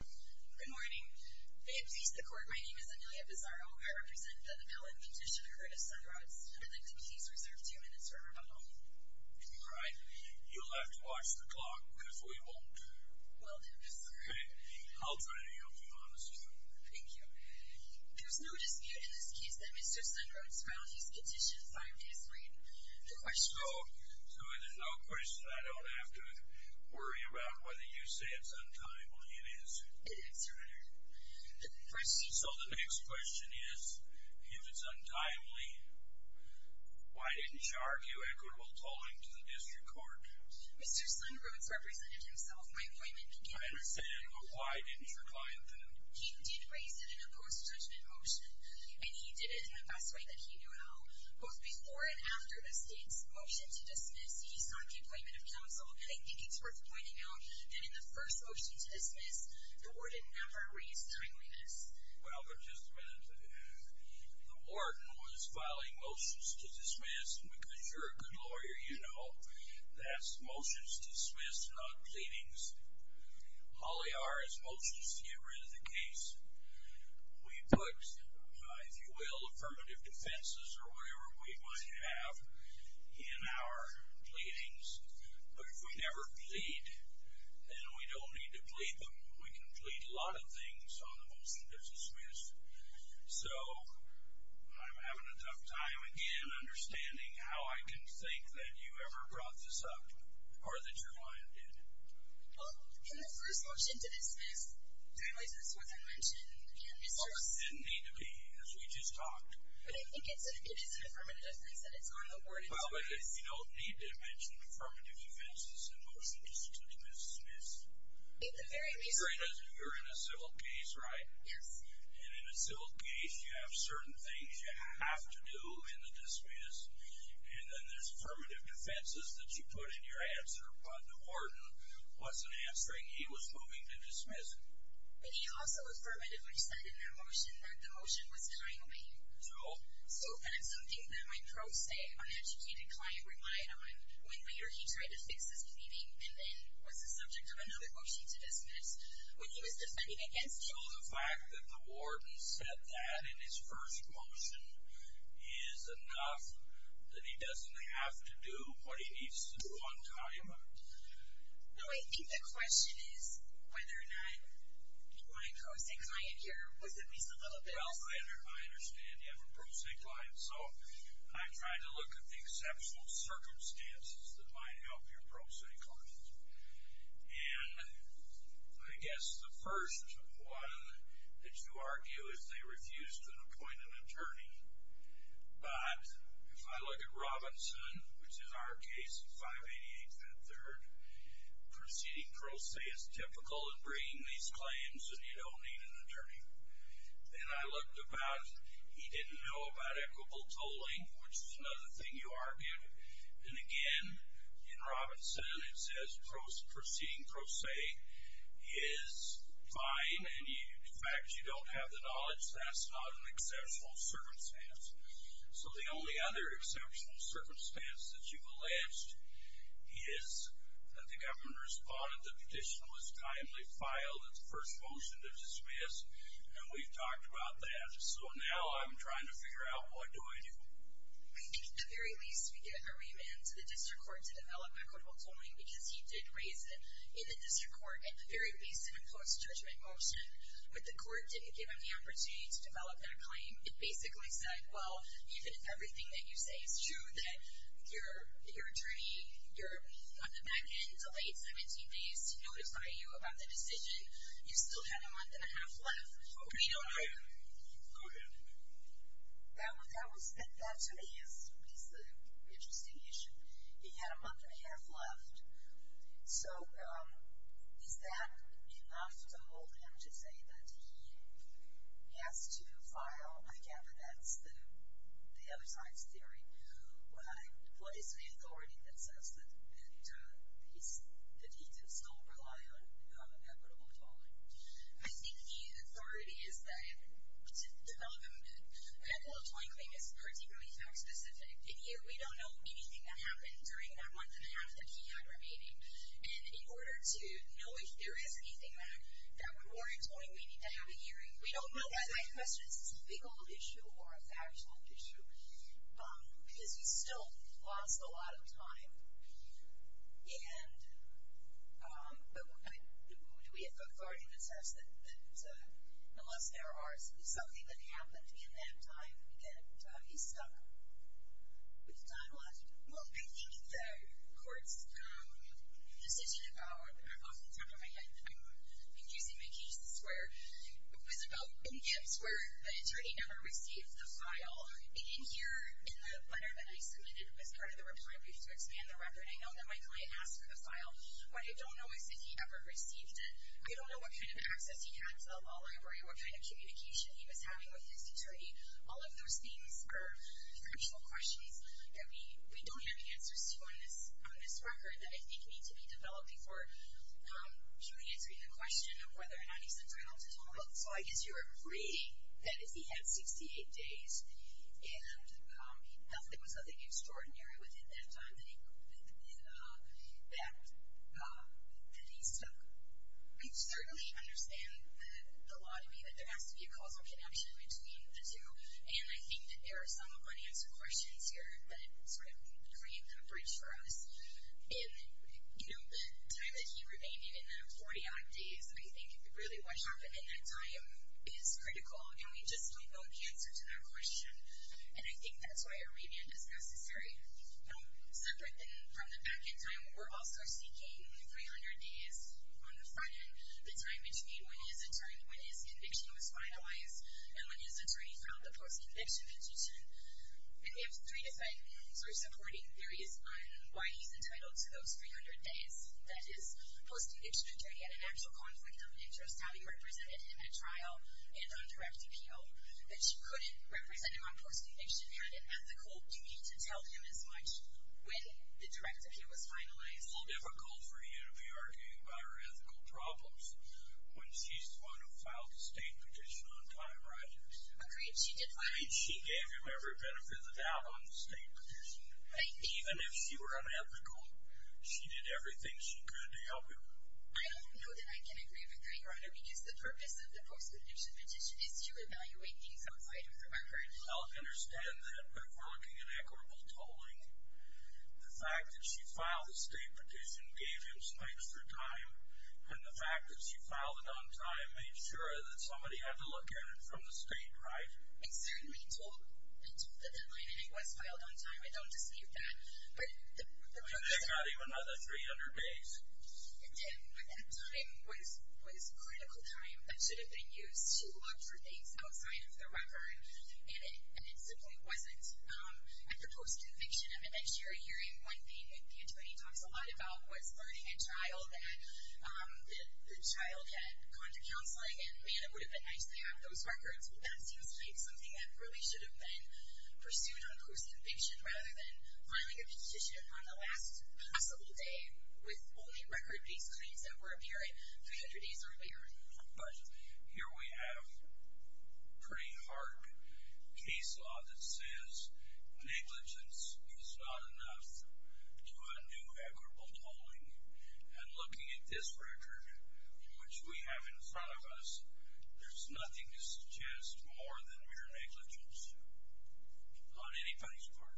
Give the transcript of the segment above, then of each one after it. Good morning. May it please the court, my name is Amelia Pizarro. I represent the development petition for Curtis Sunrhodes, and I'd like to please reserve two minutes for rebuttal. All right. You'll have to watch the clock, because we won't. Well, no, sir. Okay. I'll try to help you, honestly. Thank you. There's no dispute in this case that Mr. Sunrhodes filed his petition five days late. The question is... Good answer, Your Honor. The question... So the next question is, if it's untimely, why didn't you argue equitable tolling to the district court? Mr. Sunrhodes represented himself. My appointment began... I understand, but why didn't your client, then? He did raise it in a post-judgment motion, and he did it in the best way that he knew how. Both before and after the state's motion to dismiss, he sought the appointment of counsel, and I think it's worth pointing out that in the first motion to dismiss, the warden never raised timeliness. Well, but just a minute. The warden was filing motions to dismiss because you're a good lawyer, you know. That's motions to dismiss, not pleadings. All they are is motions to get rid of the case. We put, if you will, affirmative defenses or whatever we might have in our pleadings, but if we never plead, then we don't need to plead them. We can plead a lot of things on the motion to dismiss. So, I'm having a tough time, again, understanding how I can think that you ever brought this up, or that your client did. Well, in the first motion to dismiss, timeliness is what's been mentioned. Well, it didn't need to be, as we just talked. But I think it is an affirmative defense that it's on the warden's case. Well, but you don't need to mention affirmative defenses in motions to dismiss. In the very least... You're in a civil case, right? Yes. And in a civil case, you have certain things you have to do in the dismiss, and then there's affirmative defenses that you put in your answer, but the warden wasn't answering. He was moving to dismiss. But he also affirmatively said in that motion that the motion was timely. True. So, that's something that my pro se, uneducated client relied on when later he tried to fix his pleading, and then was the subject of another motion to dismiss. When he was defending against you... is enough that he doesn't have to do what he needs to do on time. No, I think the question is whether or not my pro se client here was at least a little bit... Well, I understand you have a pro se client, so I tried to look at the exceptional circumstances that might help your pro se client. And I guess the first one that you argue is they refused to appoint an attorney. But if I look at Robinson, which is our case, 588 and 3rd, proceeding pro se is typical in bringing these claims, and you don't need an attorney. Then I looked about... He didn't know about equitable tolling, which is another thing you argued. And again, in Robinson, it says proceeding pro se is fine, and the fact that you don't have the knowledge, that's not an exceptional circumstance. So, the only other exceptional circumstance that you've alleged is that the government responded, the petition was timely filed, it's the first motion to dismiss, and we've talked about that. So, now I'm trying to figure out what do I do. At the very least, we get a remand to the district court to develop equitable tolling, because he did raise it in the district court at the very least in a close judgment motion. But the court didn't give him the opportunity to develop that claim. It basically said, well, even if everything that you say is true, that your attorney, on the back end, delayed 17 days to notify you about the decision, you still had a month and a half left. Go ahead. That, to me, is an interesting issue. He had a month and a half left. So, is that enough to hold him to say that he has to file, I gather that's the other side's theory, what is the authority that says that he can still rely on equitable tolling? I think the authority is to tell them that equitable tolling claim is particularly fact specific. In here, we don't know anything that happened during that month and a half that he had remaining. And in order to know if there is anything that would warrant tolling, we need to have a hearing. We don't know whether that question is a legal issue or a factual issue, because he still lost a lot of time. But what do we have for authority that says that unless there is something that happened in that time, he's stuck with time loss? Well, I think the court's decision about, off the top of my head, I've been using my cases where it was about in Gibbs where the attorney never received the file. In here, in the letter that I submitted, it was part of the reply brief to expand the record. And I know that my client asked for the file. What I don't know is if he ever received it. I don't know what kind of access he had to the law library or what kind of communication he was having with his attorney. All of those things are factual questions that we don't have answers to on this record that I think need to be developed before truly answering the question of whether or not he's entitled to tolling. So I guess you're agreeing that if he had 68 days and if there was nothing extraordinary within that time that he's stuck with. I certainly understand the law to me that there has to be a causal connection between the two. And I think that there are some unanswered questions here that sort of create coverage for us. And, you know, the time that he remained in, in that 40-odd days, I think really what happened in that time is critical. And we just don't know the answer to that question. And I think that's why a remand is necessary. Separate from the back-end time, we're also seeking 300 days on the front-end, the time between when his conviction was finalized and when his attorney filed the post-conviction petition. And we have three different sort of supporting theories on why he's entitled to those 300 days, that his post-conviction attorney had an actual conflict of interest, how he represented him at trial and on direct appeal, that she couldn't represent him on post-conviction, had an ethical duty to tell him as much when the direct appeal was finalized. It's a little difficult for you to be arguing about her ethical problems when she's the one who filed the state petition on time, right? Agreed she did file it. Agreed she gave him every benefit of the doubt on the state petition. Thank you. Even if she were unethical, she did everything she could to help him. I don't know that I can agree with that, Your Honor, because the purpose of the post-conviction petition is to evaluate things outside of her record. I'll understand that. But if we're looking at equitable tolling, the fact that she filed the state petition gave him some extra time, and the fact that she filed it on time made sure that somebody had to look at it from the state, right? I certainly told the deadline and it was filed on time. I don't dispute that. And they got him another 300 days? Again, that time was critical time that should have been used to look for things outside of the record, and it simply wasn't. At the post-conviction, I'm sure you're hearing one thing that Pantone talks a lot about, was learning a child that the child had gone to counseling, and, man, it would have been nice to have those records. Well, that seems like something that really should have been pursued on post-conviction rather than filing a petition on the last possible day with only record-based claims that were apparent 300 days earlier. But here we have pretty hard case law that says negligence is not enough to undo equitable tolling. And looking at this record, which we have in front of us, there's nothing to suggest more than mere negligence on anybody's part.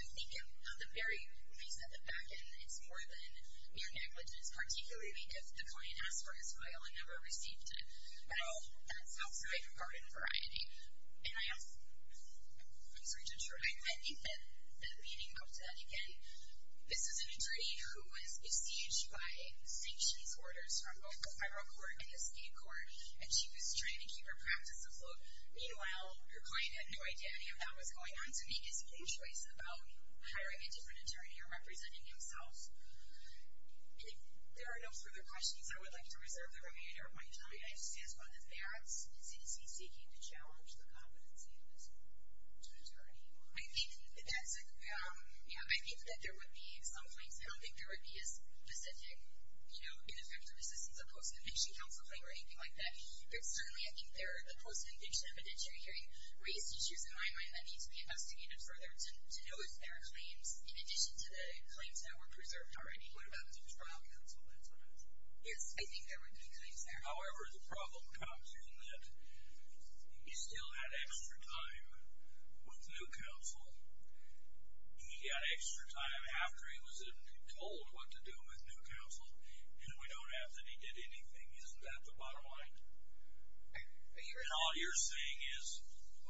I think at the very least, at the back end, it's more than mere negligence, particularly because the client asked for his file and never received it. Well, that's outside of pardon variety. And I'm sorry to interrupt. I think that leading up to that, again, this is an attorney who was besieged by sanctions orders from both the federal court and the state court, and she was trying to keep her practice afloat. Meanwhile, her client had no idea any of that was going on to make his own choice about hiring a different attorney or representing himself. I think there are no further questions. I would like to reserve the remainder of my time. I just want to ask whether that's CDC seeking to challenge the competency of this attorney. I think that's a, yeah, I think that there would be some claims. I don't think there would be a specific, you know, ineffective assistance of post-conviction counsel claim or anything like that. But certainly I think there are the post-conviction evidentiary hearing raised issues in my mind that need to be investigated further to know if there are claims, in addition to the claims that were preserved already. What about through trial counsel? Yes, I think there would be claims there. However, the problem comes in that he still had extra time with new counsel. He got extra time after he was told what to do with new counsel, and we don't have that he did anything. Isn't that the bottom line? And all you're saying is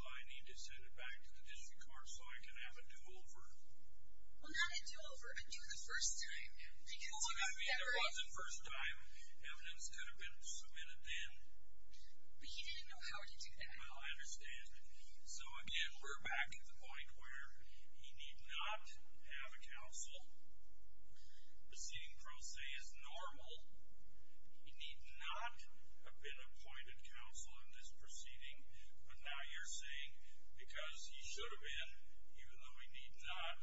I need to send it back to the district court so I can have a do-over? Well, not a do-over, a do the first time. I mean, there was a first time. Evidence could have been submitted then. But he didn't know how to do that. Well, I understand. So, again, we're back to the point where he need not have a counsel. Proceeding pro se is normal. He need not have been appointed counsel in this proceeding. But now you're saying because he should have been, even though he need not,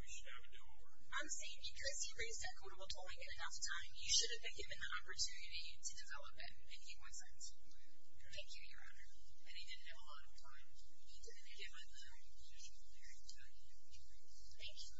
we should have a do-over. I'm saying because he raised that quotable tolling in enough time, you should have been given an opportunity to develop it and give more time to it. Thank you, Your Honor. And he didn't have a lot of time. He didn't have a lot of time. Thank you.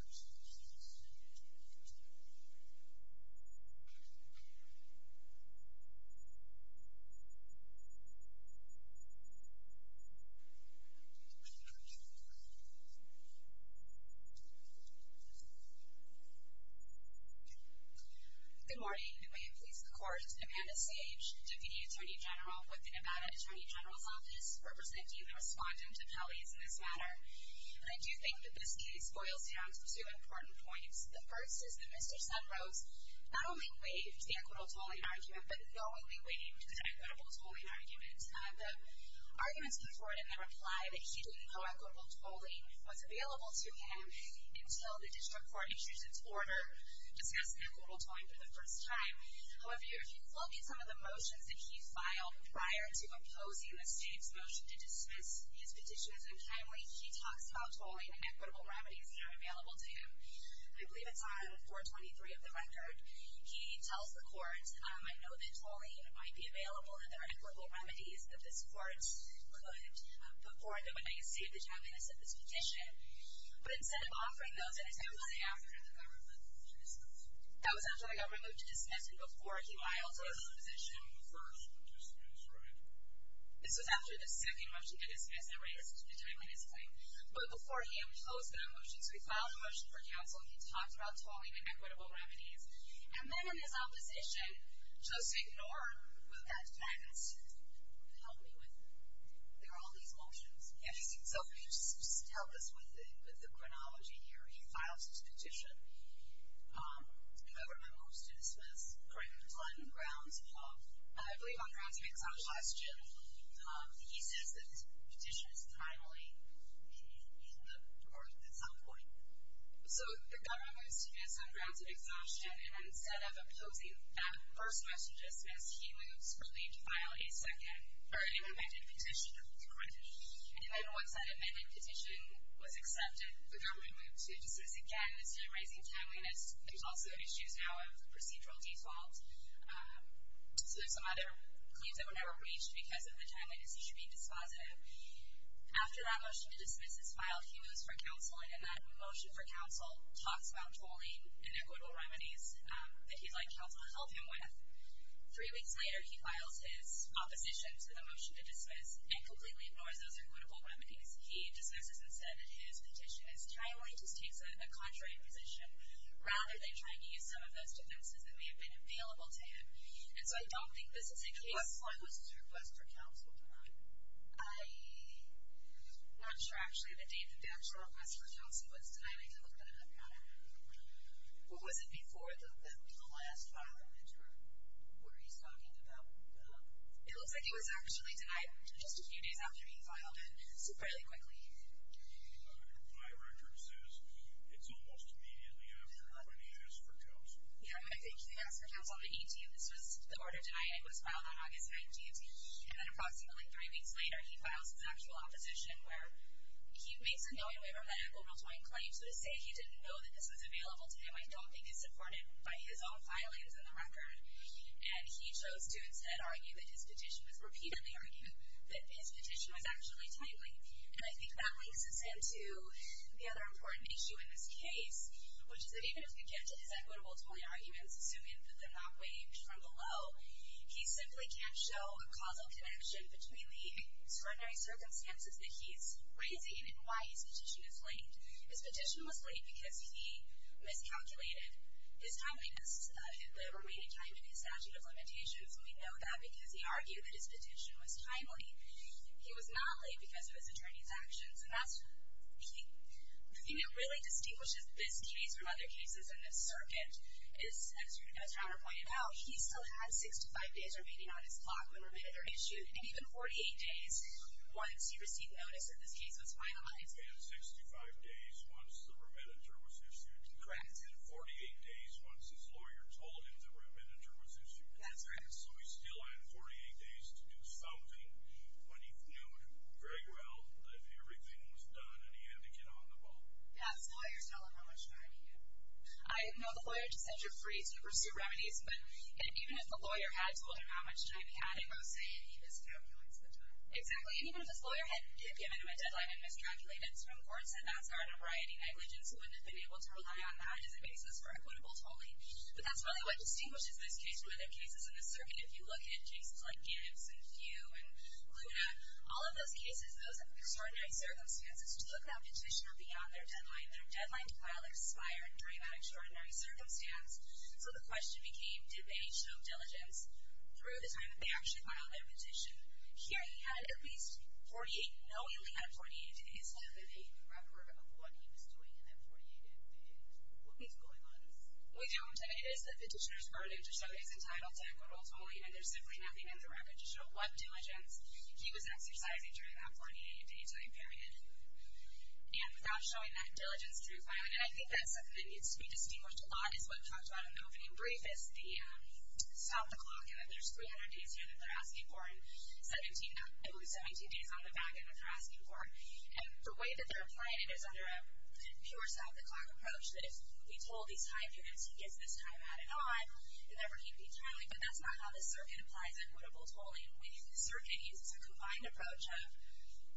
Good morning. And may it please the Court, Amanda Sage, Deputy Attorney General with the Nevada Attorney General's Office, representing the respondent of Kelly's in this matter. And I do think that this case boils down to two important points. The first is that Mr. Sunrose not only waived the equitable tolling argument, but knowingly waived the equitable tolling argument. The arguments come forward in the reply that he didn't know equitable tolling was available to him until the district court issued its order discussing equitable tolling for the first time. However, if you look at some of the motions that he filed prior to opposing the state's motion to dismiss his petitions unkindly, he talks about tolling and equitable remedies that are available to him. I believe it's on 423 of the record. He tells the court, I know that tolling might be available and there are equitable remedies that this court could put forward that would make it safe to terminate his petition. But instead of offering those, it attempts to do so after the government moved to dismiss him. That was after the government moved to dismiss him before he filed his petition. The first petition is correct. This was after the second motion to dismiss erased to terminate his claim. But before he ever closed that motion, so he filed a motion for counsel and he talked about tolling and equitable remedies. And then in his opposition, just ignore what that says. Help me with it. There are all these motions. Yes. So just help us with the chronology here. He files his petition. Government moves to dismiss. Correct? On grounds of, I believe on grounds of exhaustion. He says that his petition is timely in the court at some point. So the government moves to dismiss on grounds of exhaustion. And instead of opposing that first motion to dismiss, he moves for Lee to file a second or an amended petition. Correct. And then once that amended petition was accepted, the government moved to dismiss again. It's time-raising timeliness. There's also issues now of procedural default. So there's some other claims that were never reached because of the timeliness. He should be dispositive. After that motion to dismiss is filed, he moves for counsel, and that motion for counsel talks about tolling and equitable remedies that he'd like counsel to help him with. Three weeks later, he files his opposition to the motion to dismiss and completely ignores those equitable remedies. He dismisses instead that his petition is timely, just takes a contrary position, rather than trying to use some of those defenses that may have been available to him. And so I don't think this is a case. What was his request for counsel tonight? I'm not sure, actually, the date that the actual request for counsel was tonight. I didn't look at it. I forgot it. What was it before the last filing? What are you talking about? It looks like it was actually tonight, just a few days after being filed, and so fairly quickly. My record says it's almost immediately after the request for counsel. Yeah, I think he asked for counsel on the 18th. This was the order tonight. It was filed on August 19th. And then approximately three weeks later, he files his actual opposition, where he makes a knowingly or headache over a toying claim. So to say he didn't know that this was available to him, I don't think is supported by his own filings in the record. And he chose to instead argue that his petition was, repeatedly argue that his petition was actually timely. And I think that links us into the other important issue in this case, which is that even if we get to his equitable toying arguments, assuming that they're not waived from below, he simply can't show a causal connection between the extraordinary circumstances that he's raising and why his petition is waived. His petition was waived because he miscalculated his timeliness in the remaining time in his statute of limitations. And we know that because he argued that his petition was timely. He was not waived because of his attorney's actions. And that's, he, you know, really distinguishes this case from other cases in this circuit. As your attorney pointed out, he still had 65 days remaining on his clock when remitted or issued, and even 48 days once he received notice that this case was finalized. And 65 days once the remitter was issued. Correct. And 48 days once his lawyer told him the remitter was issued. That's correct. So he still had 48 days to do something when he knew very well that everything was done and he had to get on the ball. Yes. Lawyers know how much time he had. I know the lawyer just said you're free to pursue remedies, but even if the lawyer had told him how much time he had, it would say he miscalculates the time. Exactly. And even if his lawyer had given him a deadline and miscalculated, it's from courts at NASCAR and a variety of negligence, he wouldn't have been able to rely on that as a basis for equitable tolling. But that's really what distinguishes this case from other cases in this circuit. If you look at cases like Gibbs and Few and Luna, all of those cases, those extraordinary circumstances took that petitioner beyond their deadline. Their deadline file expired during that extraordinary circumstance. So the question became, did they show diligence through the time that they actually filed their petition? Here he had at least 48, knowingly had 48 days to debate the record of what he was doing in that 48-day period. What needs going on? We don't. It is the petitioner's burden to show he's entitled to equitable tolling and there's simply nothing in the record to show what diligence he was exercising during that 48-day time period. And without showing that diligence through filing. And I think that's something that needs to be distinguished a lot, is what we talked about in the opening brief, is the stop the clock, and that there's 300 days here that they're asking for and 17 days on the back end that they're asking for. And the way that they're applying it is under a pure stop the clock approach, that if we toll these high periods, he gets this time added on. It never came to be timely, but that's not how this circuit applies equitable tolling. Winning the circuit uses a combined approach of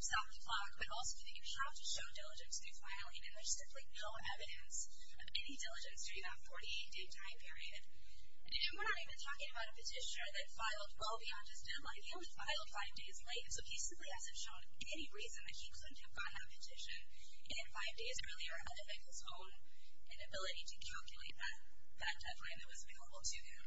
stop the clock, but also that you have to show diligence through filing, and there's simply no evidence of any diligence during that 48-day time period. And we're not even talking about a petitioner that filed well beyond just deadline. He only filed five days late, and so he simply hasn't shown any reason that he couldn't have gotten that petition in five days earlier, other than his own inability to calculate that deadline that was available to him.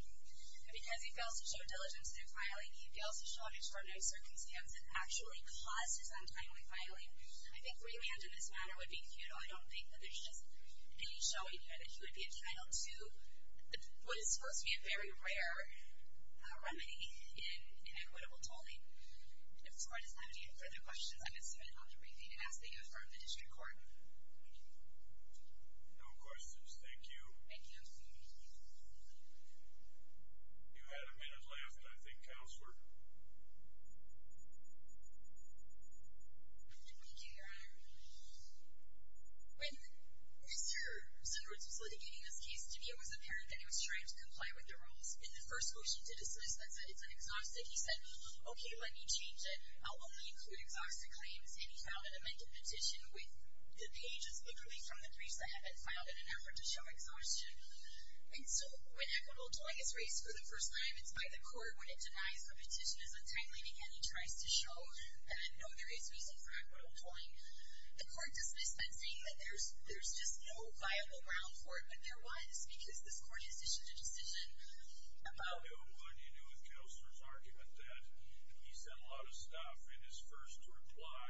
And because he fails to show diligence through filing, he fails to show an extraordinary circumstance that actually caused his untimely filing. I think remand in this matter would be futile. I don't think that there's just any showing here that he would be entitled to what is supposed to be a very rare remedy in equitable tolling. If the court doesn't have any further questions, I'm going to submit it off the briefing to ask that you affirm the district court. Thank you. No questions. Thank you. Thank you. Thank you. You had a minute left, I think, counselor. Thank you, your honor. When Mr. Sundquist was litigating this case to me, it was apparent that he was trying to comply with the rules in the first motion to dismiss that said it's an exhaustive. He said, okay, let me change it. I'll only include exhaustive claims. And he found an amended petition with the pages, literally from the briefs that had been filed in an effort to show exhaustion. And so when equitable toying is raised for the first time, it's by the court when it denies the petition is untimely, and he tries to show that no, there is reason for equitable toying. The court dismissed that, saying that there's just no viable ground for it, but there was because this court has issued a decision about it. What do you do with counselor's argument that he said a lot of stuff in his first reply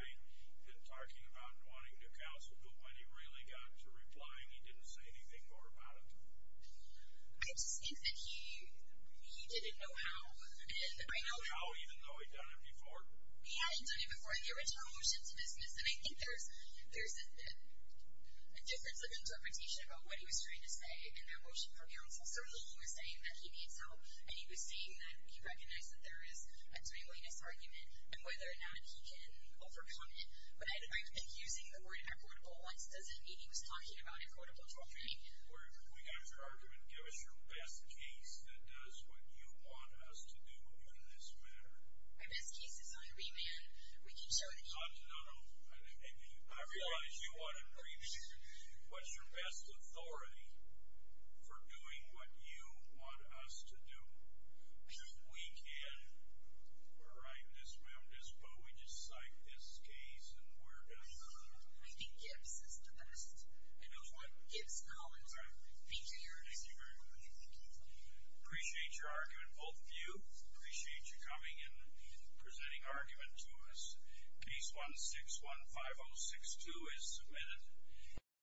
in talking about wanting to counsel, but when he really got to replying, he didn't say anything more about it? I just think that he didn't know how. He didn't know how, even though he'd done it before? He hadn't done it before in the original motion to dismiss, and I think there's a difference of interpretation about what he was trying to say in that motion for counsel. Certainly he was saying that he needs help, and he was saying that he recognized that there is a twangliness argument, and whether or not he can overcome it. But I think using the word equitable, it doesn't mean he was talking about equitable toying. We got your argument. Give us your best case that does what you want us to do in this matter. My best case is on remand. We can show that he's- No, no. I realize you want a remand. What's your best authority for doing what you want us to do? We can. We're right in this room. We just cite this case and we're done. I think Gibbs is the best. I know. Gibbs College. Thank you. Thank you very much. Appreciate your argument, both of you. Appreciate you coming and presenting argument to us. Case 1615062 is submitted.